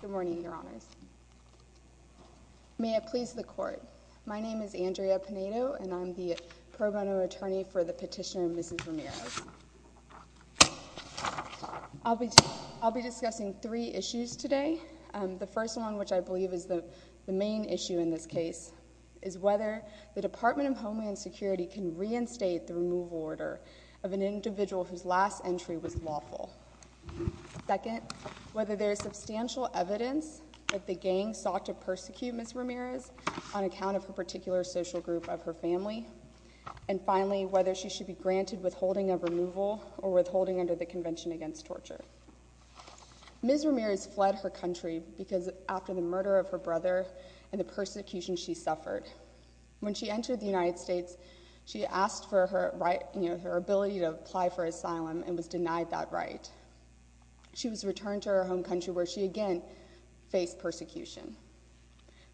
Good morning, Your Honors. May it please the Court, my name is Andrea Pinedo and I'm the pro bono attorney for the petitioner, Mrs. Ramirez. I'll be discussing three issues today. The first one, which I believe is the main issue in this case, is whether the Department of Homeland Security can reinstate the removal order of an individual whose last entry was lawful. Second, whether there is substantial evidence that the gang sought to persecute Mrs. Ramirez on account of her particular social group of her family. And finally, whether she should be granted withholding of removal or withholding under the Convention Against Torture. Mrs. Ramirez fled her country because after the murder of her brother and the persecution she suffered. When she entered the United States, she asked for her right, you know, her ability to apply for asylum and was denied that right. She was returned to her home country where she again faced persecution.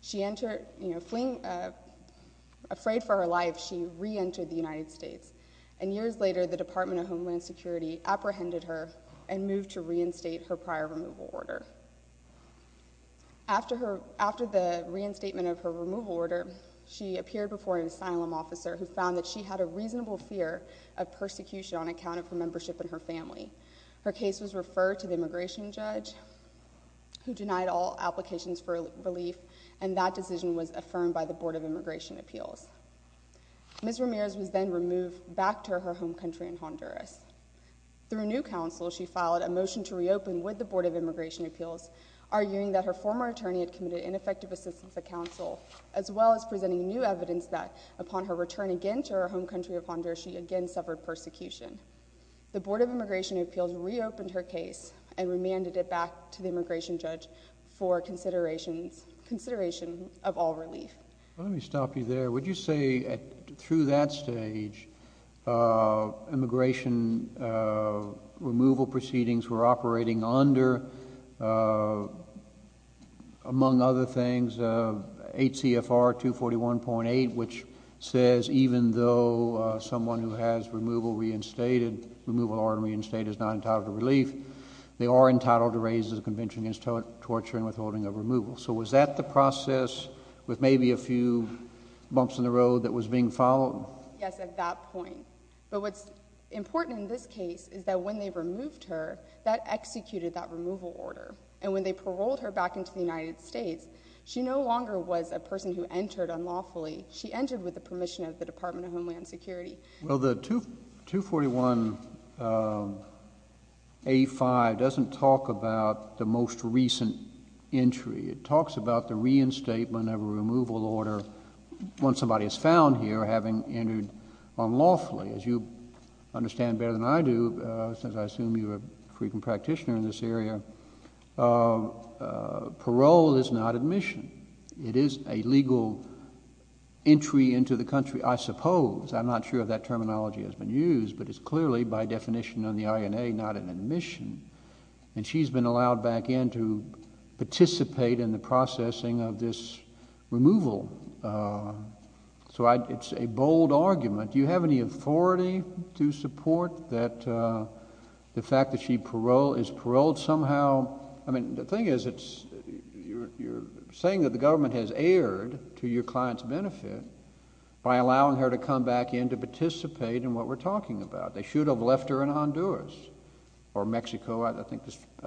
She entered, you know, fleeing, afraid for her life, she reentered the United States. And years later, the Department of Homeland Security apprehended her and moved to reinstate her prior removal order. After the reinstatement of her removal order, she appeared before an asylum officer who found that she had a reasonable fear of persecution on account of her membership in her family. Her case was referred to the immigration judge who denied all applications for relief and that decision was affirmed by the Board of Immigration Appeals. Mrs. Ramirez was then removed back to her home country in Honduras. Through new counsel, she filed a motion to reopen with the Board of Immigration Appeals arguing that her former attorney had committed ineffective assistance at counsel as well as presenting new evidence that upon her return again to her home country of Honduras, she again suffered persecution. The Board of Immigration Appeals reopened her case and remanded it back to the immigration judge for consideration of all relief. Let me stop you there. Would you say through that stage, immigration removal proceedings were operating under, among other things, 8 CFR 241.8 which says even though someone who has removal reinstated, removal order reinstated is not entitled to relief, they are entitled to raise the Convention Against Torture and Withholding of Removal. So was that the process with maybe a few bumps in the road that was being followed? Yes, at that point. But what's important in this case is that when they removed her, that executed that removal order. And when they paroled her back into the United States, she no longer was a person who entered unlawfully. She entered with the permission of the Department of Homeland Security. Well, the 241.85 doesn't talk about the most recent entry. It talks about the reinstatement of a removal order when somebody is found here having entered unlawfully. As you understand better than I do, since I assume you're a frequent practitioner in this area, parole is not admission. It is a legal entry into the country, I suppose. I'm not sure if that terminology has been used, but it's clearly by definition on the INA not an admission. And she's been allowed back in to participate in the processing of this removal. So it's a bold argument. Do you have any authority to support that the fact that she is paroled somehow? I mean, the thing is, you're saying that the government has erred to your client's benefit by allowing her to come back in to participate in what we're talking about. They should have left her in Honduras or Mexico. I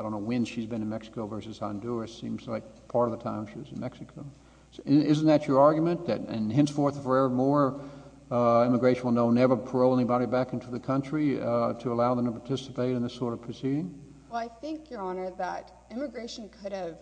don't know when she's been in Mexico versus Honduras. It seems like part of the time she was in Mexico. Isn't that your argument, that henceforth and forevermore immigration will never parole anybody back into the country to allow them to participate in this sort of proceeding? Well, I think, Your Honor, that immigration could have,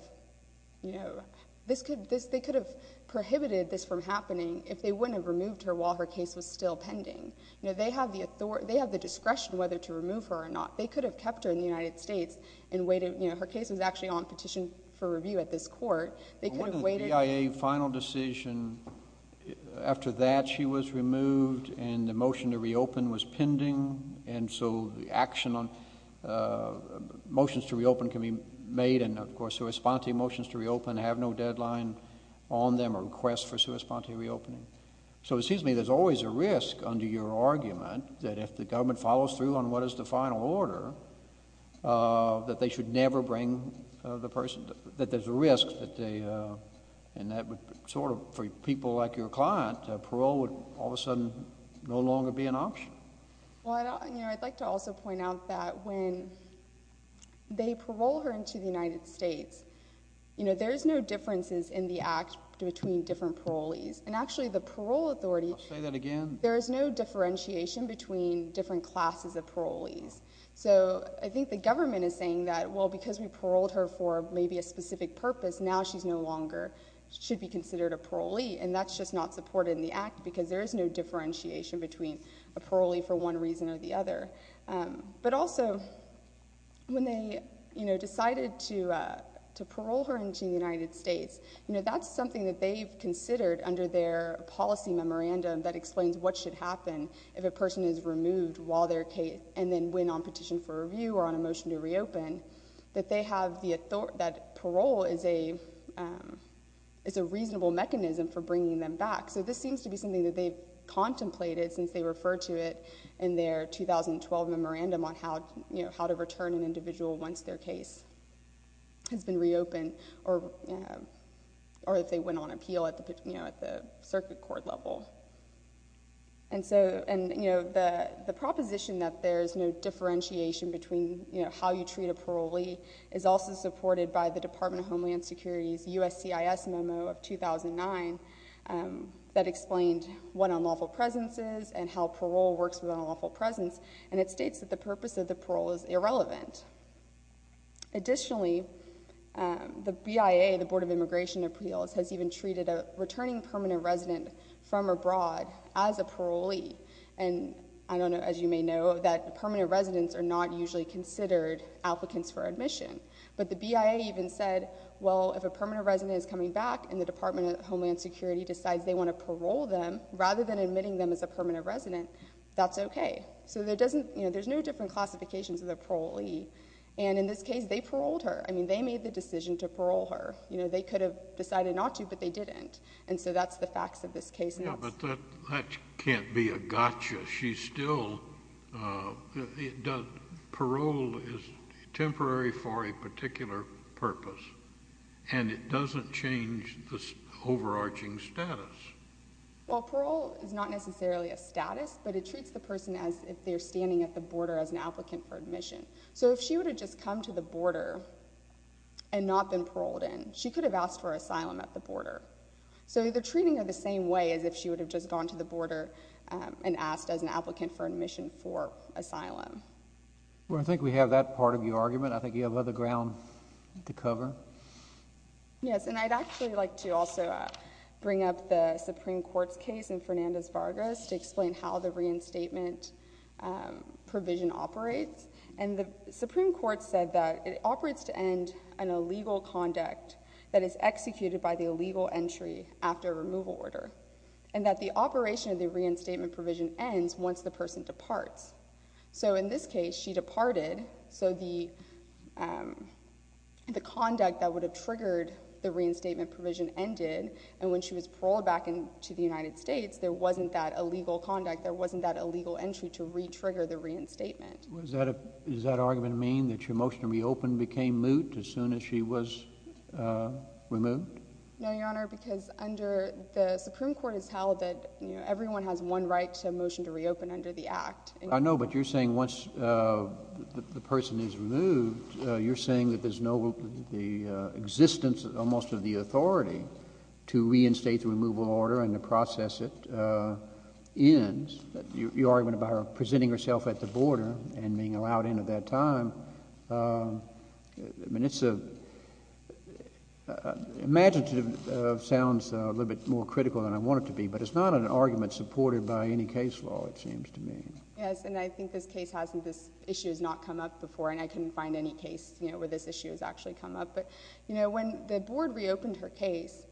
you know, they could have prohibited this from happening if they wouldn't have removed her while her case was still pending. You know, they have the discretion whether to remove her or not. They could have kept her in the United States and waited, you know, her case was actually on petition for review at this court. They could have waited. But wouldn't the BIA final decision, after that she was removed and the motion to reopen was pending, and so the action on motions to reopen can be made and, of course, the response to motions to reopen have no deadline on them or request for a response to reopening. So it seems to me there's always a risk under your argument that if the government follows through on what is the final order, that they should never bring the person, that there's a risk that they, and that would sort of, for people like your client, parole would all of a sudden no longer be an option. Well, you know, I'd like to also point out that when they parole her into the United States, you know, there's no differences in the act between different parolees. And actually the parole authority, I'll say that again, there is no differentiation between different classes of parolees. So I think the government is saying that, well, because we paroled her for maybe a specific purpose, now she's no longer, should be considered a parolee. And that's just not supported in the act because there is no differentiation between a parolee for one reason or the other. But also, when they, you know, decided to parole her into the United States, you know, that's something that they've considered under their policy memorandum that explains what should happen if a person is removed while they're case, and then when on petition for review or on a motion to reopen, that they have the, that parole is a, is a reasonable mechanism for bringing them back. So this seems to be something that they've contemplated since they referred to it in their 2012 memorandum on how, you know, how to return an individual once their case has been reopened or, or if they went on appeal at the, you know, at the circuit court level. And so, and, you know, the, the proposition that there is no differentiation between, you know, how you treat a parolee is also supported by the Department of Homeland Security's USCIS memo of 2009 that explained what unlawful presence is and how parole works with unlawful presence. And it states that the purpose of the parole is irrelevant. Additionally, the BIA, the Board of Immigration Appeals, has even treated a returning permanent resident from abroad as a parolee. And I don't know, as you may know, that permanent residents are not usually considered applicants for admission. But the BIA even said, well, if a permanent resident is coming back and the Department of Homeland Security decides they want to parole them, rather than admitting them as a permanent resident, that's okay. So there doesn't, you know, there's no different classifications of the parolee. And in this case, they paroled her. I mean, they made the decision to parole her. You know, they could have decided not to, but they didn't. And so, that's the facts of this case. Yeah, but that, that can't be a gotcha. She's still, parole is temporary for a particular purpose. And it doesn't change the overarching status. Well, parole is not necessarily a status, but it treats the person as if they're standing at the border as an applicant for admission. So if she would have just come to the border and not been paroled in, she could have asked for asylum at the border. So they're treating her the same way as if she would have just gone to the border and asked as an applicant for admission for asylum. Well, I think we have that part of your argument. I think you have other ground to cover. Yes, and I'd actually like to also bring up the Supreme Court's case in Fernandez-Vargas to explain how the reinstatement provision operates. And the Supreme Court said that it operates to end an illegal conduct that is executed by the illegal entry after a removal order, and that the operation of the reinstatement provision ends once the person departs. So in this case, she departed, so the conduct that would have triggered the reinstatement provision ended. And when she was paroled back into the United States, there wasn't that illegal conduct. There wasn't that illegal entry to re-trigger the reinstatement. Does that argument mean that your motion to reopen became moot as soon as she was removed? No, Your Honor, because under the Supreme Court, it's held that everyone has one right to a motion to reopen under the Act. I know, but you're saying once the person is removed, you're saying that there's no – the existence almost of the authority to reinstate the removal order and to process it ends. Your argument about her presenting herself at the border and being allowed in at that time, I mean, it's a – imaginative sounds a little bit more critical than I want it to be, but it's not an argument supported by any case law, it seems to me. Yes, and I think this case has – this issue has not come up before, and I couldn't find any case where this issue has actually come up. But, you know, when the board reopened her case,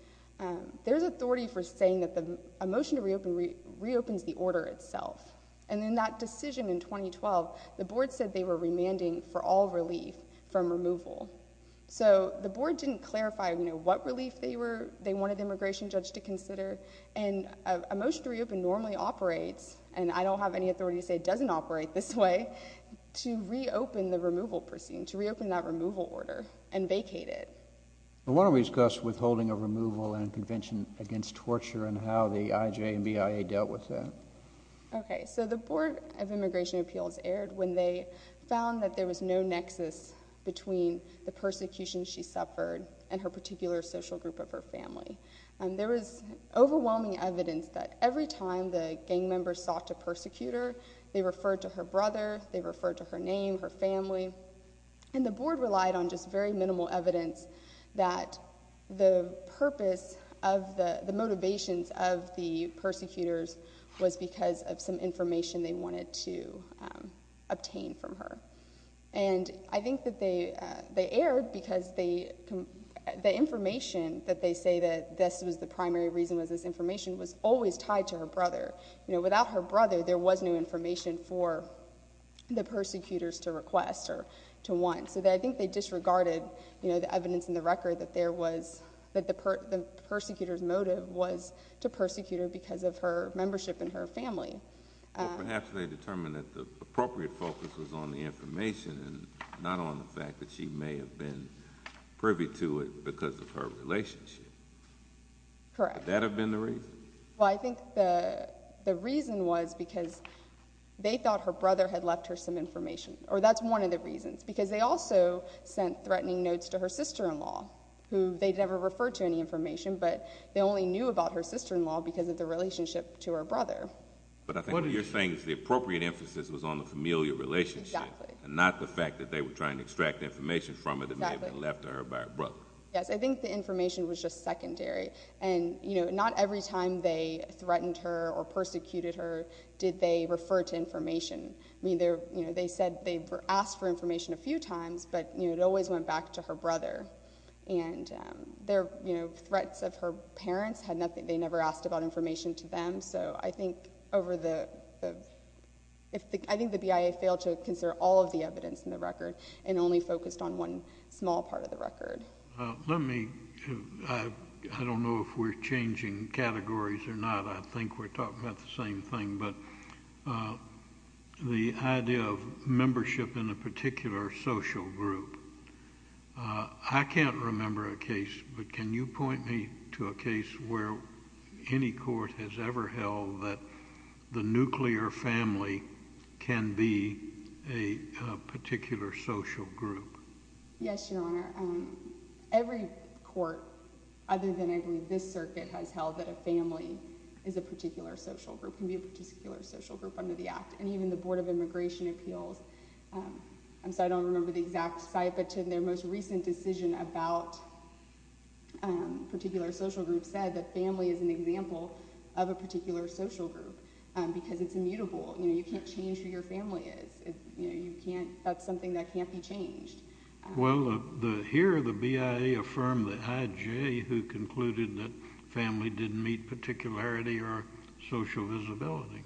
there's authority for saying that a motion to reopen reopens the order itself. And in that decision in 2012, the board said they were remanding for all relief from removal. So the board didn't clarify, you know, what relief they were – they wanted the immigration judge to consider, and a motion to reopen normally operates – and I don't have any authority to say it doesn't operate this way – to reopen the removal proceeding, to reopen that removal order and vacate it. I want to discuss withholding of removal and convention against torture and how the IJ and BIA dealt with that. Okay, so the Board of Immigration Appeals erred when they found that there was no nexus between the persecution she suffered and her particular social group of her family. There was overwhelming evidence that every time the gang members sought to persecute her, they referred to her brother, they referred to her name, her family. And the board relied on just very minimal evidence that the purpose of the – the motivations of the persecutors was because of some information they wanted to obtain from her. And I think that they erred because they – the information that they say that this was the primary reason was this information was always tied to her brother. You know, without her brother, there was no information for the persecutors to request or to want. So I think they disregarded, you know, the evidence in the record that there was – that the persecutor's motive was to persecute her because of her membership in her family. Well, perhaps they determined that the appropriate focus was on the information and not on the fact that she may have been privy to it because of her relationship. Correct. Would that have been the reason? Well, I think the reason was because they thought her brother had left her some information. Or that's one of the reasons. Because they also sent threatening notes to her sister-in-law, who they never referred to any information, but they only knew about her sister-in-law because of the relationship to her brother. But I think what you're saying is the appropriate emphasis was on the familial relationship and not the fact that they were trying to extract information from her that may have been left to her by her brother. Yes, I think the information was just secondary. And, you know, not every time they threatened her or persecuted her did they refer to information. I mean, you know, they said they asked for information a few times, but, you know, it always went back to her brother. And their, you know, threats of her parents had nothing – they never asked about information to them. So I think over the – I think the BIA failed to consider all of the evidence in the record and only focused on one small part of the record. Let me – I don't know if we're changing categories or not. I think we're talking about the same thing. But the idea of membership in a particular social group – I can't remember a case, but can you point me to a case where any court has ever held that the nuclear family can be a particular social group? Yes, Your Honor. Every court, other than I believe this circuit, has held that a family is a particular social group, can be a particular social group under the Act. And even the Board of Immigration Appeals – I'm sorry, I don't remember the exact site, but their most recent decision about a particular social group said that family is an example of a particular social group because it's immutable. You know, you can't change who your family is. You know, you can't – that's something that can't be changed. Well, here the BIA affirmed the IJ who concluded that family didn't meet particularity or social visibility.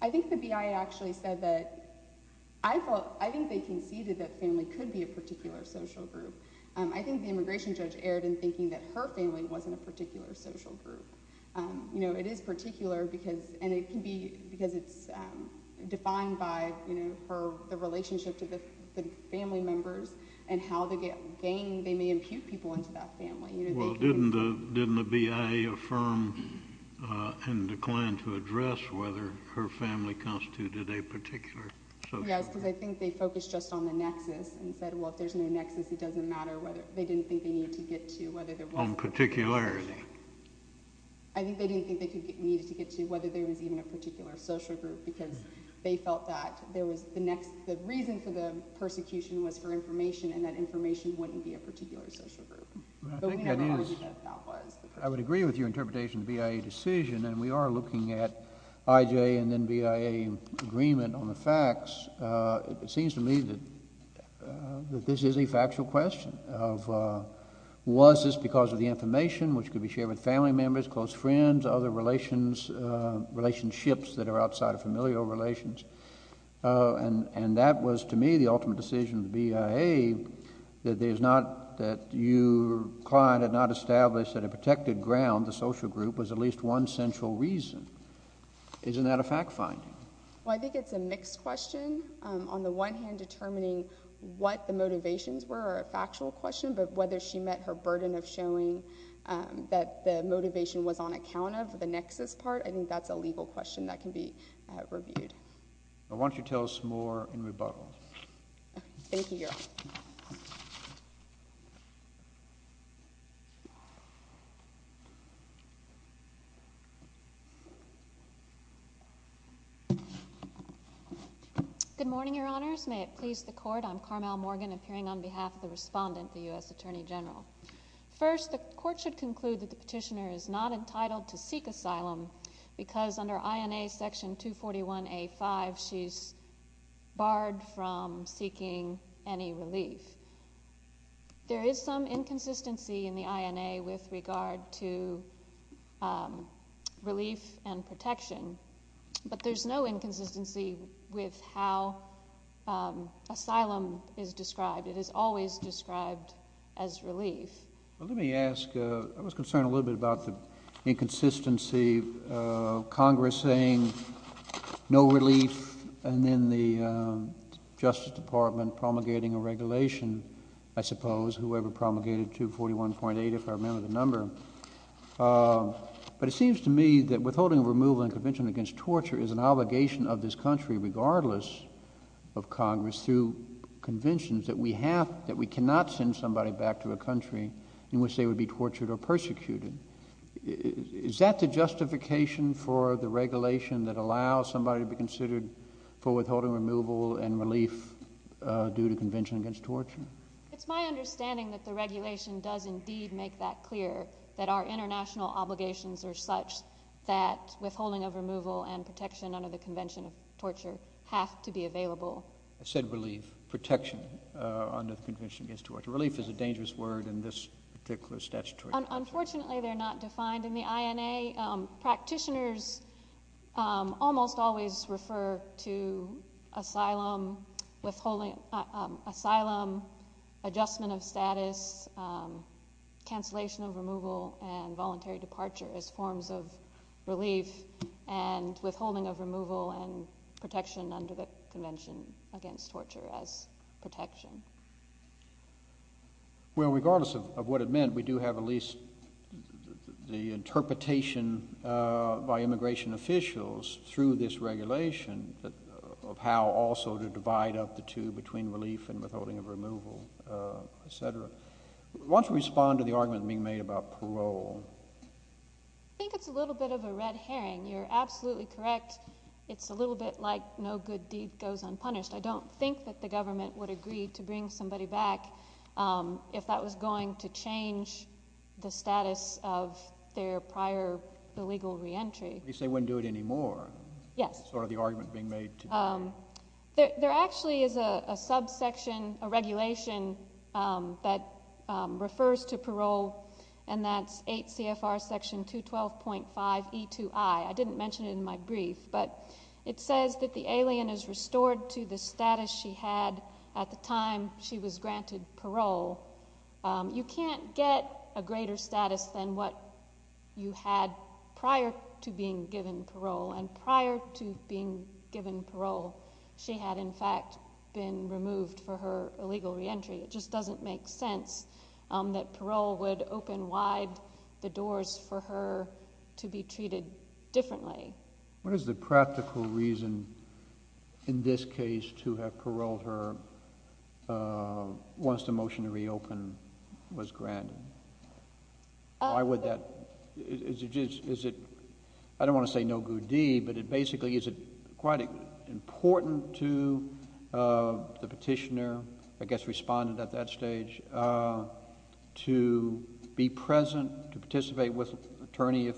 I think the BIA actually said that – I think they conceded that family could be a particular social group. I think the immigration judge erred in thinking that her family wasn't a particular social group. You know, it is particular because – and it can be – because it's defined by the relationship to the family members and how they may impute people into that family. Well, didn't the BIA affirm and decline to address whether her family constituted a particular social group? Yes, because I think they focused just on the nexus and said, well, if there's no nexus, it doesn't matter whether – they didn't think they needed to get to whether there was a particular social group. On particularity. I think they didn't think they needed to get to whether there was even a particular social group because they felt that there was – the reason for the persecution was for information and that information wouldn't be a particular social group. I think that is – I would agree with your interpretation of the BIA decision and we are looking at IJ and then BIA agreement on the facts. It seems to me that this is a factual question of was this because of the information which could be shared with family members, close friends, other relationships that are outside of familial relations. And that was to me the ultimate decision of the BIA that there's not – that your client had not established that a protected ground, the social group, was at least one central reason. Isn't that a fact finding? Well, I think it's a mixed question. On the one hand, determining what the motivations were are a factual question, but whether she met her burden of showing that the motivation was on account of the nexus part, I think that's a legal question that can be reviewed. I want you to tell us more in rebuttal. Thank you, Your Honor. Good morning, Your Honors. May it please the Court, I'm Carmel Morgan appearing on behalf of the Respondent, the U.S. Attorney General. First, the Court should conclude that the petitioner is not entitled to seek asylum because under INA Section 241A.5, she's barred from seeking any relief. There is some inconsistency in the INA with regard to relief and protection, but there's no inconsistency with how asylum is described. It is always described as relief. Well, let me ask, I was concerned a little bit about the inconsistency of Congress saying no relief and then the Justice Department promulgating a regulation, I suppose, whoever promulgated 241.8, if I remember the number. But it seems to me that withholding removal and convention against torture is an obligation of this country regardless of Congress through conventions that we have, that we cannot send somebody back to a country in which they would be tortured or persecuted. Is that the justification for the regulation that allows somebody to be considered for withholding removal and relief due to convention against torture? It's my understanding that the regulation does indeed make that clear, that our international obligations are such that withholding of removal and protection under the convention of torture have to be available. You said relief, protection under the convention against torture. Relief is a dangerous word in this particular statutory. Unfortunately, they're not defined in the INA. Practitioners almost always refer to asylum, adjustment of status, cancellation of removal and voluntary departure as forms of relief and withholding of removal and protection under the convention against torture as protection. Well, regardless of what it meant, we do have at least the interpretation by immigration officials through this regulation of how also to divide up the two between relief and withholding of removal, et cetera. Why don't you respond to the argument being made about parole? I think it's a little bit of a red herring. You're absolutely correct. It's a little bit like no good deed goes unpunished. I don't think that the government would agree to bring somebody back if that was going to change the status of their prior illegal reentry. At least they wouldn't do it anymore. Yes. Sort of the argument being made today. There actually is a subsection, a regulation that refers to parole, and that's 8 CFR section 212.5E2I. I didn't mention it in my brief, but it says that the alien is restored to the status she had at the time she was granted parole. You can't get a greater status than what you had prior to being given parole, and prior to being given parole, she had in fact been removed for her illegal reentry. It just doesn't make sense that parole would open wide the doors for her to be treated differently. What is the practical reason in this case to have paroled her once the motion to reopen was granted? Why would that? I don't want to say no good deed, but basically is it quite important to the petitioner, I think you commented at that stage, to be present, to participate with attorney if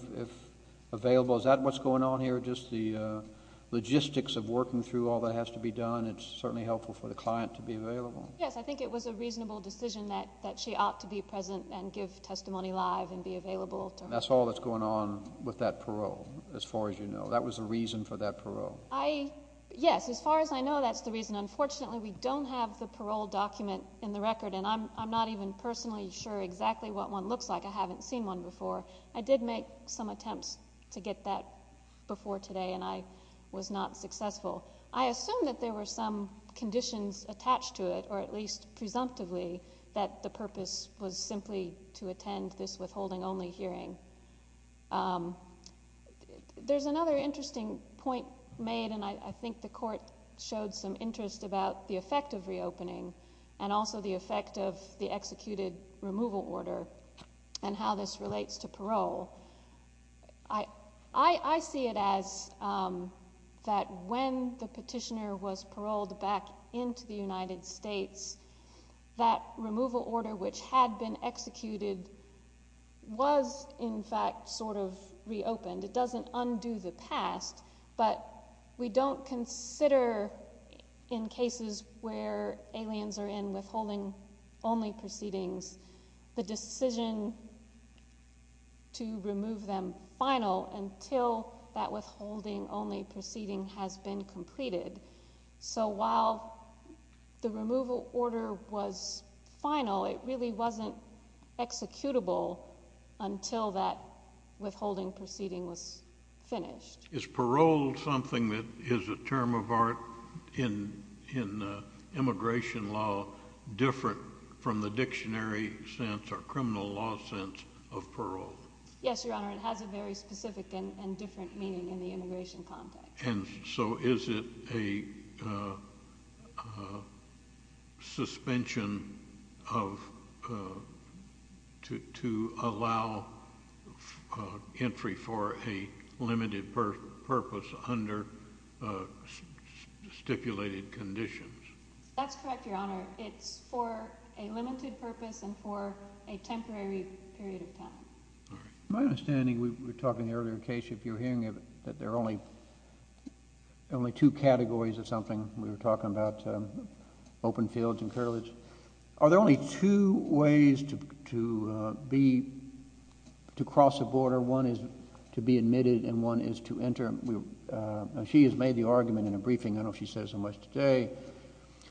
available? Is that what's going on here, just the logistics of working through all that has to be done? It's certainly helpful for the client to be available. Yes. I think it was a reasonable decision that she ought to be present and give testimony live and be available to her. That's all that's going on with that parole, as far as you know. That was the reason for that parole. Yes. As far as I know, that's the reason. Unfortunately, we don't have the parole document in the record. I'm not even personally sure exactly what one looks like. I haven't seen one before. I did make some attempts to get that before today, and I was not successful. I assume that there were some conditions attached to it, or at least presumptively, that the purpose was simply to attend this withholding only hearing. There's another interesting point made, and I think the court showed some interest about the effect of reopening and also the effect of the executed removal order and how this relates to parole. I see it as that when the petitioner was paroled back into the United States, that removal order, which had been executed, was in fact sort of reopened. It doesn't undo the past, but we don't consider, in cases where aliens are in withholding only proceedings, the decision to remove them final until that withholding only proceeding has been completed. So while the removal order was final, it really wasn't executable until that withholding proceeding was finished. Is parole something that is a term of art in immigration law different from the dictionary sense or criminal law sense of parole? Yes, Your Honor. It has a very specific and different meaning in the immigration context. And so is it a suspension to allow entry for a limited purpose under stipulated conditions? That's correct, Your Honor. It's for a limited purpose and for a temporary period of time. My understanding, we were talking earlier in the case, if you were hearing of it, that there are only two categories of something. We were talking about open fields and cartilage. Are there only two ways to cross a border? One is to be admitted and one is to enter. She has made the argument in a briefing, I don't know if she said so much today,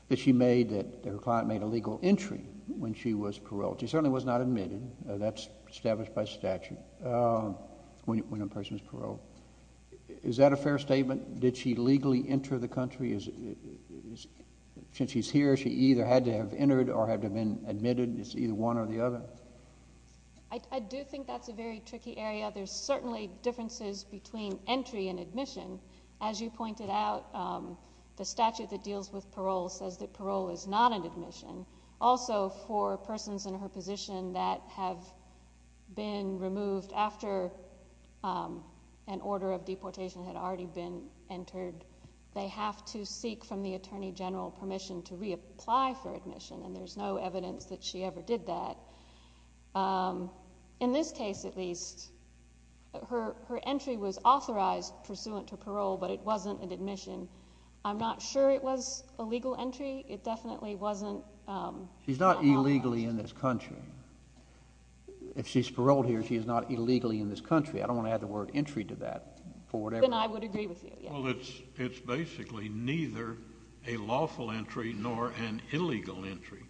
that she made that her client made a legal entry when she was paroled. She certainly was not admitted. That's established by statute when a person is paroled. Is that a fair statement? Did she legally enter the country? Since she's here, she either had to have entered or had to have been admitted. It's either one or the other. I do think that's a very tricky area. There's certainly differences between entry and admission. As you pointed out, the statute that deals with parole says that parole is not an admission. Also, for persons in her position that have been removed after an order of deportation had already been entered, they have to seek from the attorney general permission to reapply for admission. There's no evidence that she ever did that. In this case, at least, her entry was authorized pursuant to parole, but it wasn't an admission. I'm not sure it was a legal entry. It definitely wasn't an authorization. She's not illegally in this country. If she's paroled here, she's not illegally in this country. I don't want to add the word entry to that. Then I would agree with you. It's basically neither a lawful entry nor an illegal entry.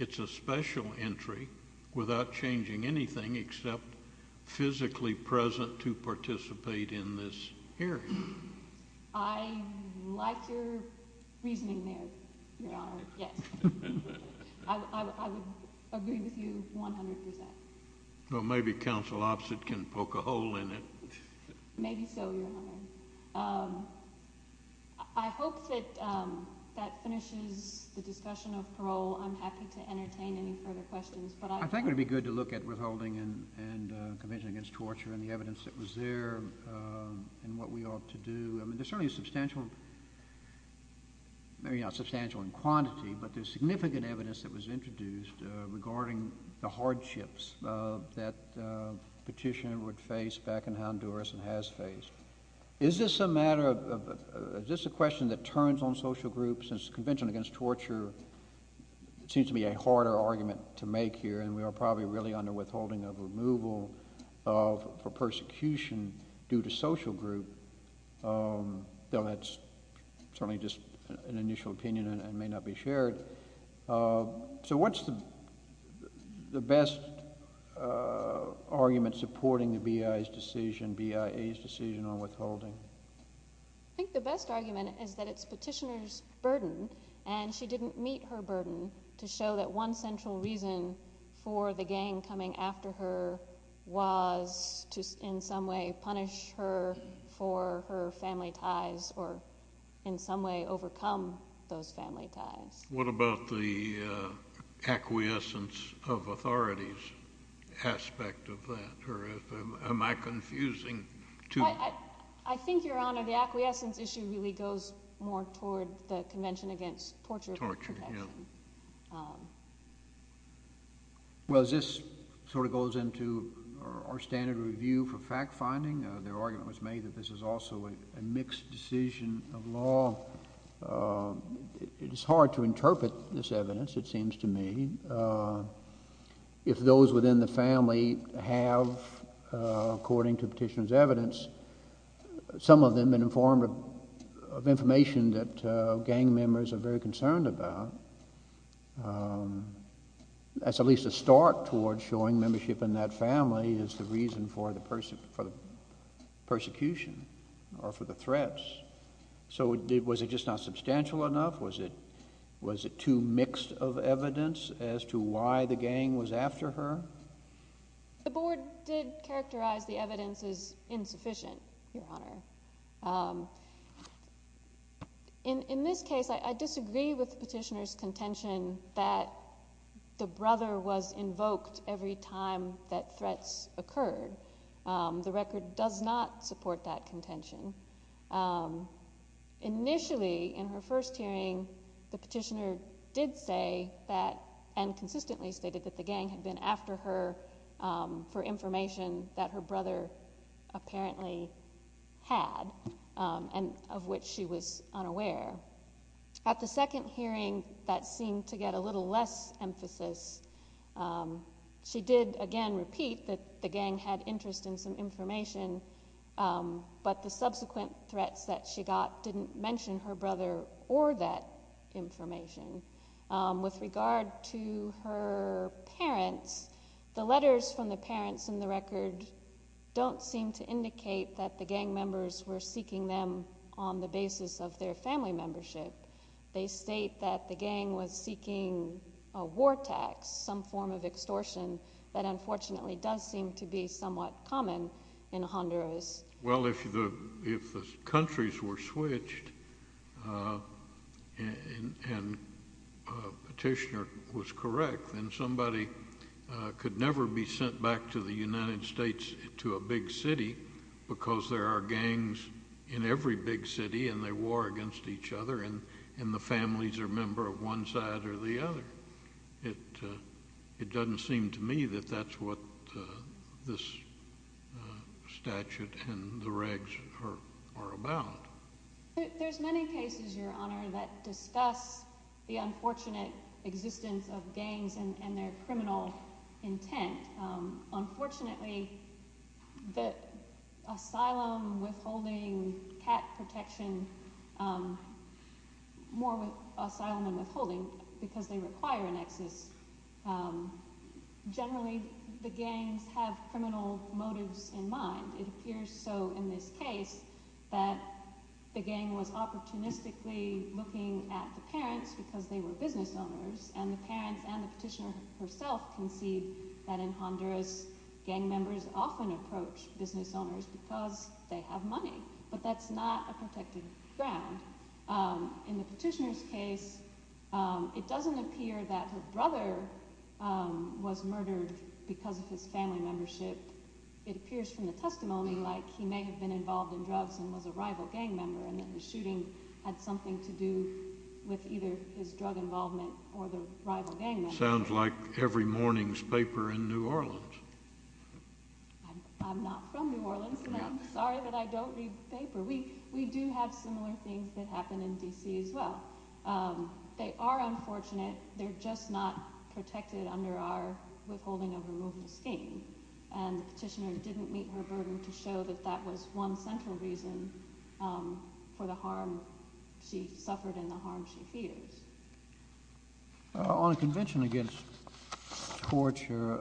It's a special entry without changing anything except physically present to participate in this area. I like your reasoning there, Your Honor. Yes. I would agree with you 100%. Well, maybe counsel opposite can poke a hole in it. Maybe so, Your Honor. I hope that that finishes the discussion of parole. I'm happy to entertain any further questions. I think it would be good to look at withholding and the Convention Against Torture and the I mean, there's certainly substantial, maybe not substantial in quantity, but there's significant evidence that was introduced regarding the hardships that Petitioner would face back in Honduras and has faced. Is this a matter of, is this a question that turns on social groups? Since the Convention Against Torture seems to be a harder argument to make here and we are probably really under withholding of removal for persecution due to social group, though that's certainly just an initial opinion and may not be shared. So what's the best argument supporting the BIA's decision, BIA's decision on withholding? I think the best argument is that it's Petitioner's burden and she didn't meet her burden to show that one central reason for the gang coming after her was to in some way punish her for her family ties or in some way overcome those family ties. What about the acquiescence of authorities aspect of that? Or am I confusing two? I think, Your Honor, the acquiescence issue really goes more toward the Convention Against Torture. Well, this sort of goes into our standard review for fact-finding. Their argument was made that this is also a mixed decision of law. It's hard to interpret this evidence, it seems to me. If those within the family have, according to Petitioner's evidence, some of them have been informed of information that gang members are very concerned about, that's at least a start toward showing membership in that family is the reason for the persecution or for the threats. So was it just not substantial enough? Was it too mixed of evidence as to why the gang was after her? The Board did characterize the evidence as insufficient, Your Honor. In this case, I disagree with Petitioner's contention that the brother was invoked every time that threats occurred. The record does not support that contention. Initially, in her first hearing, the Petitioner did say that, and consistently stated that the gang had been after her for information that her brother apparently had and of which she was unaware. At the second hearing, that seemed to get a little less emphasis. She did, again, repeat that the gang had interest in some information, but the subsequent threats that she got didn't mention her brother or that information. With regard to her parents, the letters from the parents in the record don't seem to indicate that the gang members were seeking them on the basis of their family membership. They state that the gang was seeking a war tax, some form of extortion that unfortunately does seem to be somewhat common in Honduras. Well, if the countries were switched and Petitioner was correct, then somebody could never be sent back to the United States to a big city because there are gangs in every big city and they war against each other and the families are a member of one side or the other. It doesn't seem to me that that's what this statute and the regs are about. There's many cases, Your Honor, that discuss the unfortunate existence of gangs and their criminal intent. Unfortunately, asylum, withholding, cat protection, more with asylum than withholding because they require an excess. Generally, the gangs have criminal motives in mind. It appears so in this case that the gang was opportunistically looking at the parents because they were business owners and the parents and the Petitioner herself concede that in Honduras, gang members often approach business owners because they have money. But that's not a protected ground. In the Petitioner's case, it doesn't appear that her brother was murdered because of his family membership. It appears from the testimony like he may have been involved in drugs and was a rival gang member and that the shooting had something to do with either his drug involvement or the rival gang member. Sounds like every morning's paper in New Orleans. I'm not from New Orleans and I'm sorry that I don't read the paper. We do have similar things that happen in D.C. as well. They are unfortunate. They're just not protected under our withholding of removal scheme. And the Petitioner didn't meet her burden to show that that was one central reason for the harm she suffered and the harm she feels. On a convention against torture,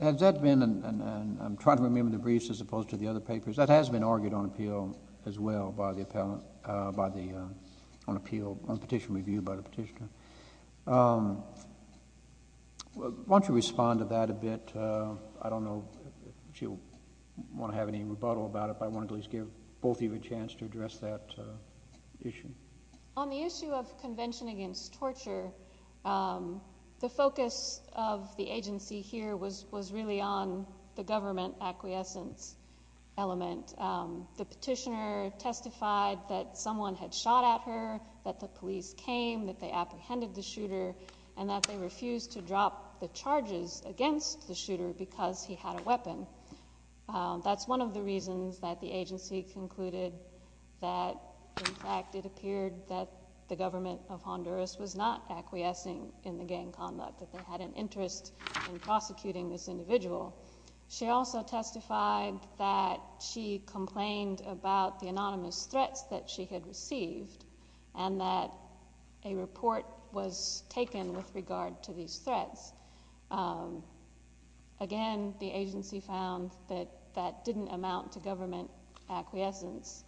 has that been, and I'm trying to remember the briefs as opposed to the other papers, that has been argued on appeal as well by the, on appeal, on petition review by the Petitioner. Why don't you respond to that a bit? I don't know if you want to have any rebuttal about it but I wanted to at least give both of you a chance to address that issue. On the issue of convention against torture, the focus of the agency here was really on the government acquiescence element. The Petitioner testified that someone had shot at her, that the police came, that they apprehended the shooter and that they refused to drop the charges against the shooter because he had a weapon. That's one of the reasons that the agency concluded that in fact it appeared that the government of Honduras was not acquiescing in the gang conduct, that they had an interest in prosecuting this individual. She also testified that she complained about the anonymous threats that she had received and that a report was taken with regard to these threats. Again, the agency found that that didn't amount to government acquiescence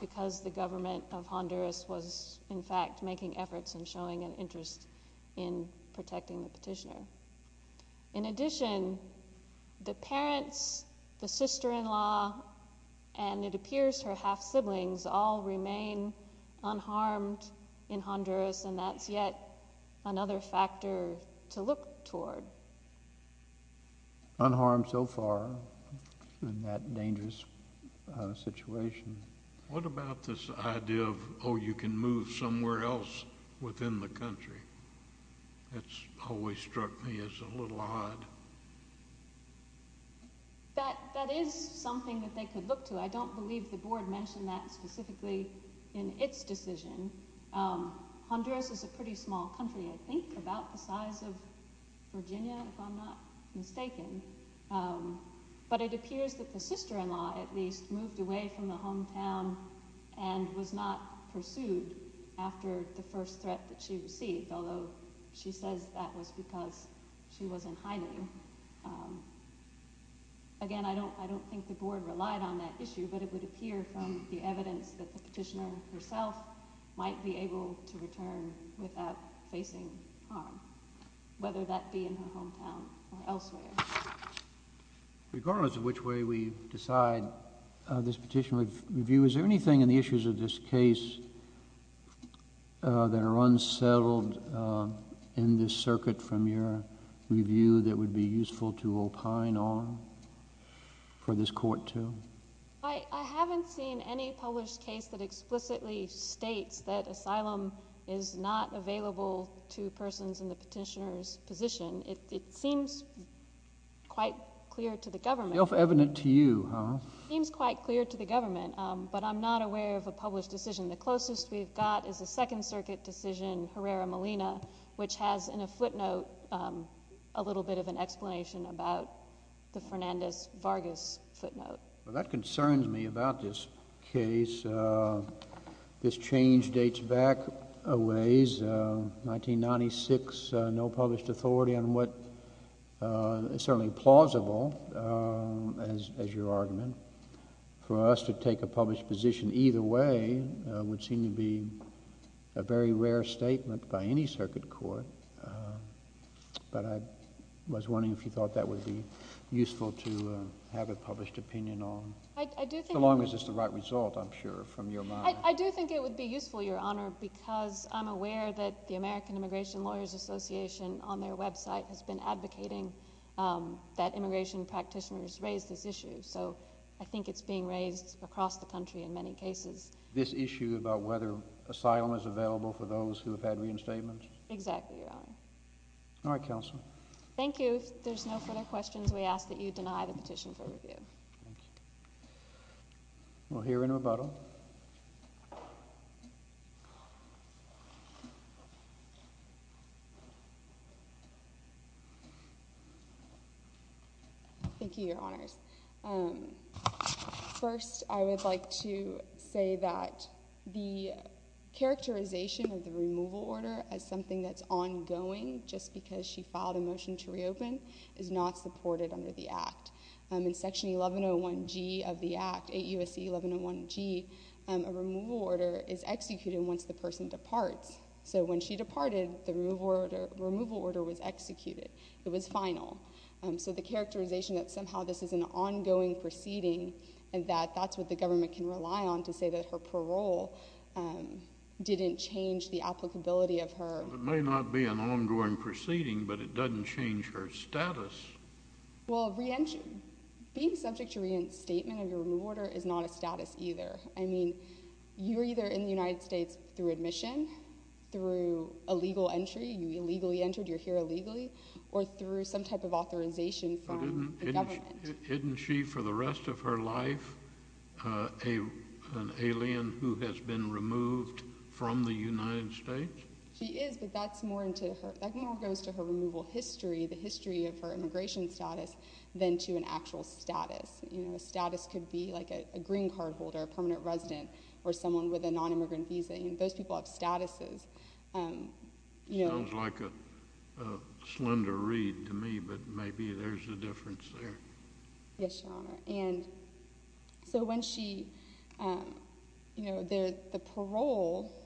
because the government of Honduras was in fact making efforts and showing an interest in protecting the Petitioner. In addition, the parents, the sister-in-law and it appears her half-siblings all remain unharmed in Honduras and that's yet another factor to look toward. Unharmed so far in that dangerous situation. What about this idea of, oh, you can move somewhere else within the country? That's always struck me as a little odd. That is something that they could look to. I don't believe the board mentioned that specifically in its decision. Honduras is a pretty small country, I think, about the size of Virginia if I'm not mistaken. But it appears that the sister-in-law at least moved away from the hometown and was not pursued after the first threat that she received, although she says that was because she was in hiding. Again, I don't think the board relied on that issue, but it would appear from the evidence that the Petitioner herself might be able to return without facing harm whether that be in her hometown or elsewhere. Regardless of which way we decide this Petition Review, is there anything in the issues of this case that are unsettled in this circuit from your review that would be useful to opine on for this court to? I haven't seen any published case that explicitly states that asylum is not available to persons in the Petitioner's position. It seems quite clear to the government. Self-evident to you, huh? It seems quite clear to the government, but I'm not aware of a published decision. The closest we've got is a Second Circuit decision, Herrera-Molina, which has in a footnote a little bit of an explanation about the Fernandez-Vargas footnote. That concerns me about this case. This change dates back a ways. 1996, no published authority on what is certainly plausible as your argument. For us to take a published position either way would seem to be a very rare statement by any circuit court, but I was wondering if you thought that would be useful to have a published opinion on? So long as it's the right result, I'm sure, from your mind. I do think it would be useful, Your Honor, because I'm aware that the American Immigration Lawyers Association on their website has been advocating that immigration practitioners raise this issue, so I think it's being raised across the country in many cases. This issue about whether asylum is available for those who have had reinstatements? Exactly, Your Honor. All right, counsel. Thank you. If there's no further questions, we ask that you deny the petition for review. Thank you. We'll hear in rebuttal. Thank you, Your Honors. First, I would like to say that the characterization of the removal order as something that's ongoing just because she filed a motion to reopen is not supported under the Act. In Section 1101G of the Act, 8 U.S.C. 1101G, is executed once the person departs, so when she departed, the removal order was executed. It was final. So the characterization that somehow this is an ongoing proceeding and that that's what the government can rely on to say that her parole didn't change the applicability of her... It may not be an ongoing proceeding, but it doesn't change her status. Well, being subject to reinstatement of your removal order is not a status either. You're either in the United States through admission, through a legal entry, you illegally entered, you're here illegally, or through some type of authorization from the government. But isn't she for the rest of her life an alien who has been removed from the United States? She is, but that's more into her... That more goes to her removal history, the history of her immigration status than to an actual status. You know, a status could be like a green card holder, a permanent resident, or someone with a non-immigrant visa. Those people have statuses. Sounds like a slender read to me, but maybe there's a difference there. Yes, Your Honor, and so when she you know, the parole,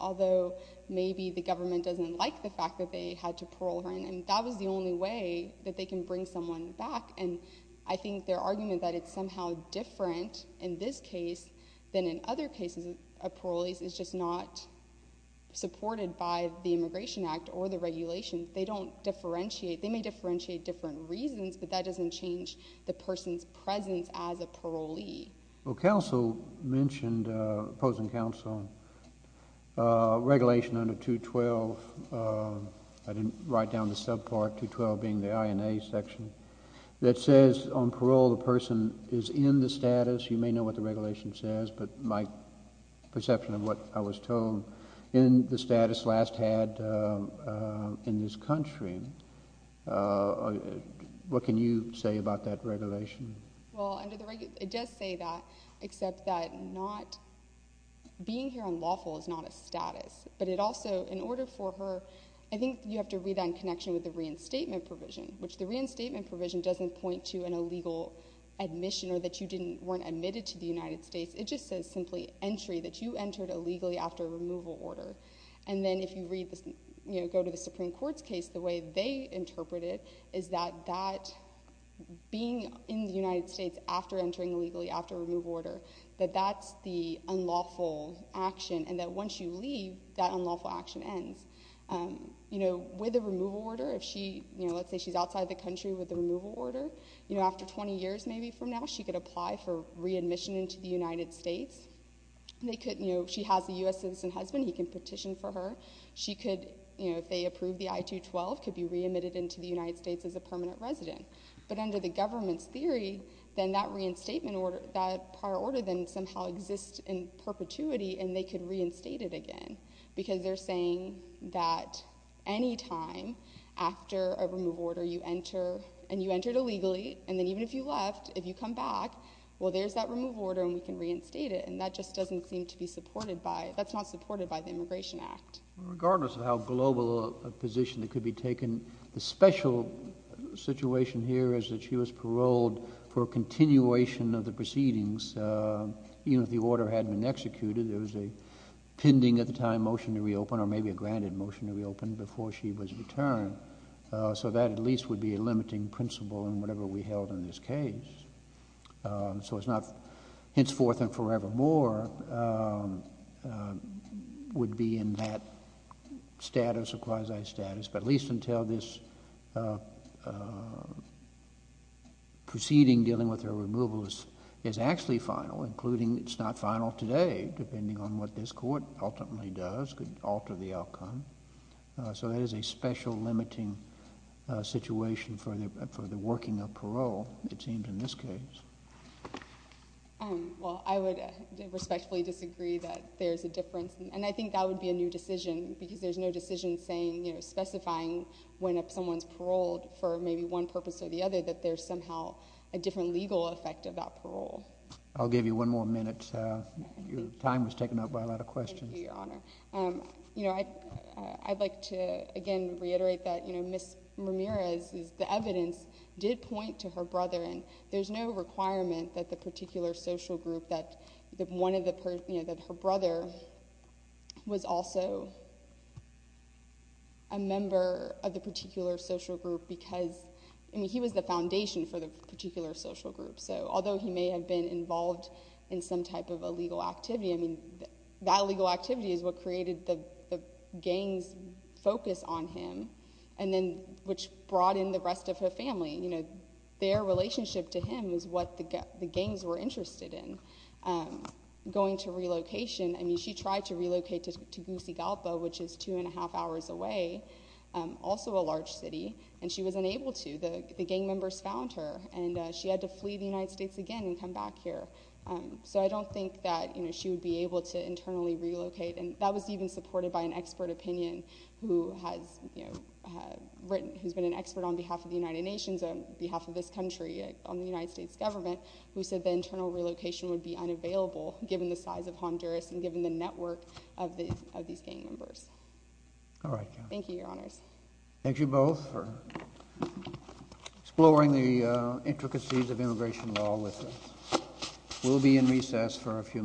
although maybe the government doesn't like the fact that they had to parole her, and that was the only way that they can bring someone back, and I think their argument that it's somehow different in this case than in other cases of parolees is just not supported by the Immigration Act or the regulations. They don't differentiate. They may differentiate different reasons, but that doesn't change the person's presence as a parolee. Well, counsel mentioned, opposing counsel, regulation under 212 I didn't write down the subpart 212 being the INA section that says on parole the person is in the status. You may know what the regulation says, but my perception of what I was told in the status last had in this country what can you say about that regulation? It does say that, except that not being here unlawful is not a status, but it also, in order for her I think you have to read that in connection with the reinstatement provision, which the reinstatement provision doesn't point to an illegal admission or that you weren't admitted to the United States. It just says simply entry that you entered illegally after a removal order. And then if you go to the Supreme Court's case, the way they interpret it is that being in the United States after entering illegally after a removal order that that's the unlawful action and that once you leave that unlawful action ends. With a removal order, if she let's say she's outside the country with a she could apply for re-admission into the United States she has a US citizen husband, he can petition for her she could, if they approve the I-212 could be re-admitted into the United States as a permanent resident. But under the government's theory, then that prior order then somehow exists in perpetuity and they could reinstate it again because they're saying that any time after a removal order you enter and you entered illegally and then even if you left if you come back, well there's that removal order and we can reinstate it and that just doesn't seem to be supported by that's not supported by the Immigration Act. Regardless of how global a position that could be taken, the special situation here is that she was paroled for a continuation of the proceedings even if the order hadn't been executed there was a pending at the time motion to reopen or maybe a granted motion to reopen before she was returned so that at least would be a limiting principle in whatever we held in this case so it's not henceforth and forevermore would be in that status or quasi-status but at least until this proceeding dealing with her removal is actually final including it's not final today depending on what this court ultimately does could alter the outcome so that is a special limiting situation for the working of parole it seems in this case well I would respectfully disagree that there's a difference and I think that would be a new decision because there's no decision saying specifying when someone's paroled for maybe one purpose or the other that there's somehow a different legal effect of that parole I'll give you one more minute time was taken up by a lot of questions thank you your honor I'd like to again reiterate that Ms. Ramirez the evidence did point to her brother and there's no requirement that the particular social group that her brother was also a member of the particular social group because he was the foundation for the particular social group so although he may have been involved in some type of a legal activity I mean that legal activity is what created the gang's focus on him and then which brought in the rest of her family their relationship to him is what the gangs were interested in going to relocation I mean she tried to relocate to which is two and a half hours away also a large city and she was unable to the gang members found her and she had to flee the United States again and come back here so I don't think that she would be able to internally relocate and that was even supported by an expert opinion who has been an expert on behalf of the United Nations on behalf of this country on the United States government who said that internal relocation would be unavailable given the size of Honduras and given the network of these gang members thank you your honors thank you both for exploring the intricacies of immigration we'll be in recess for a few minutes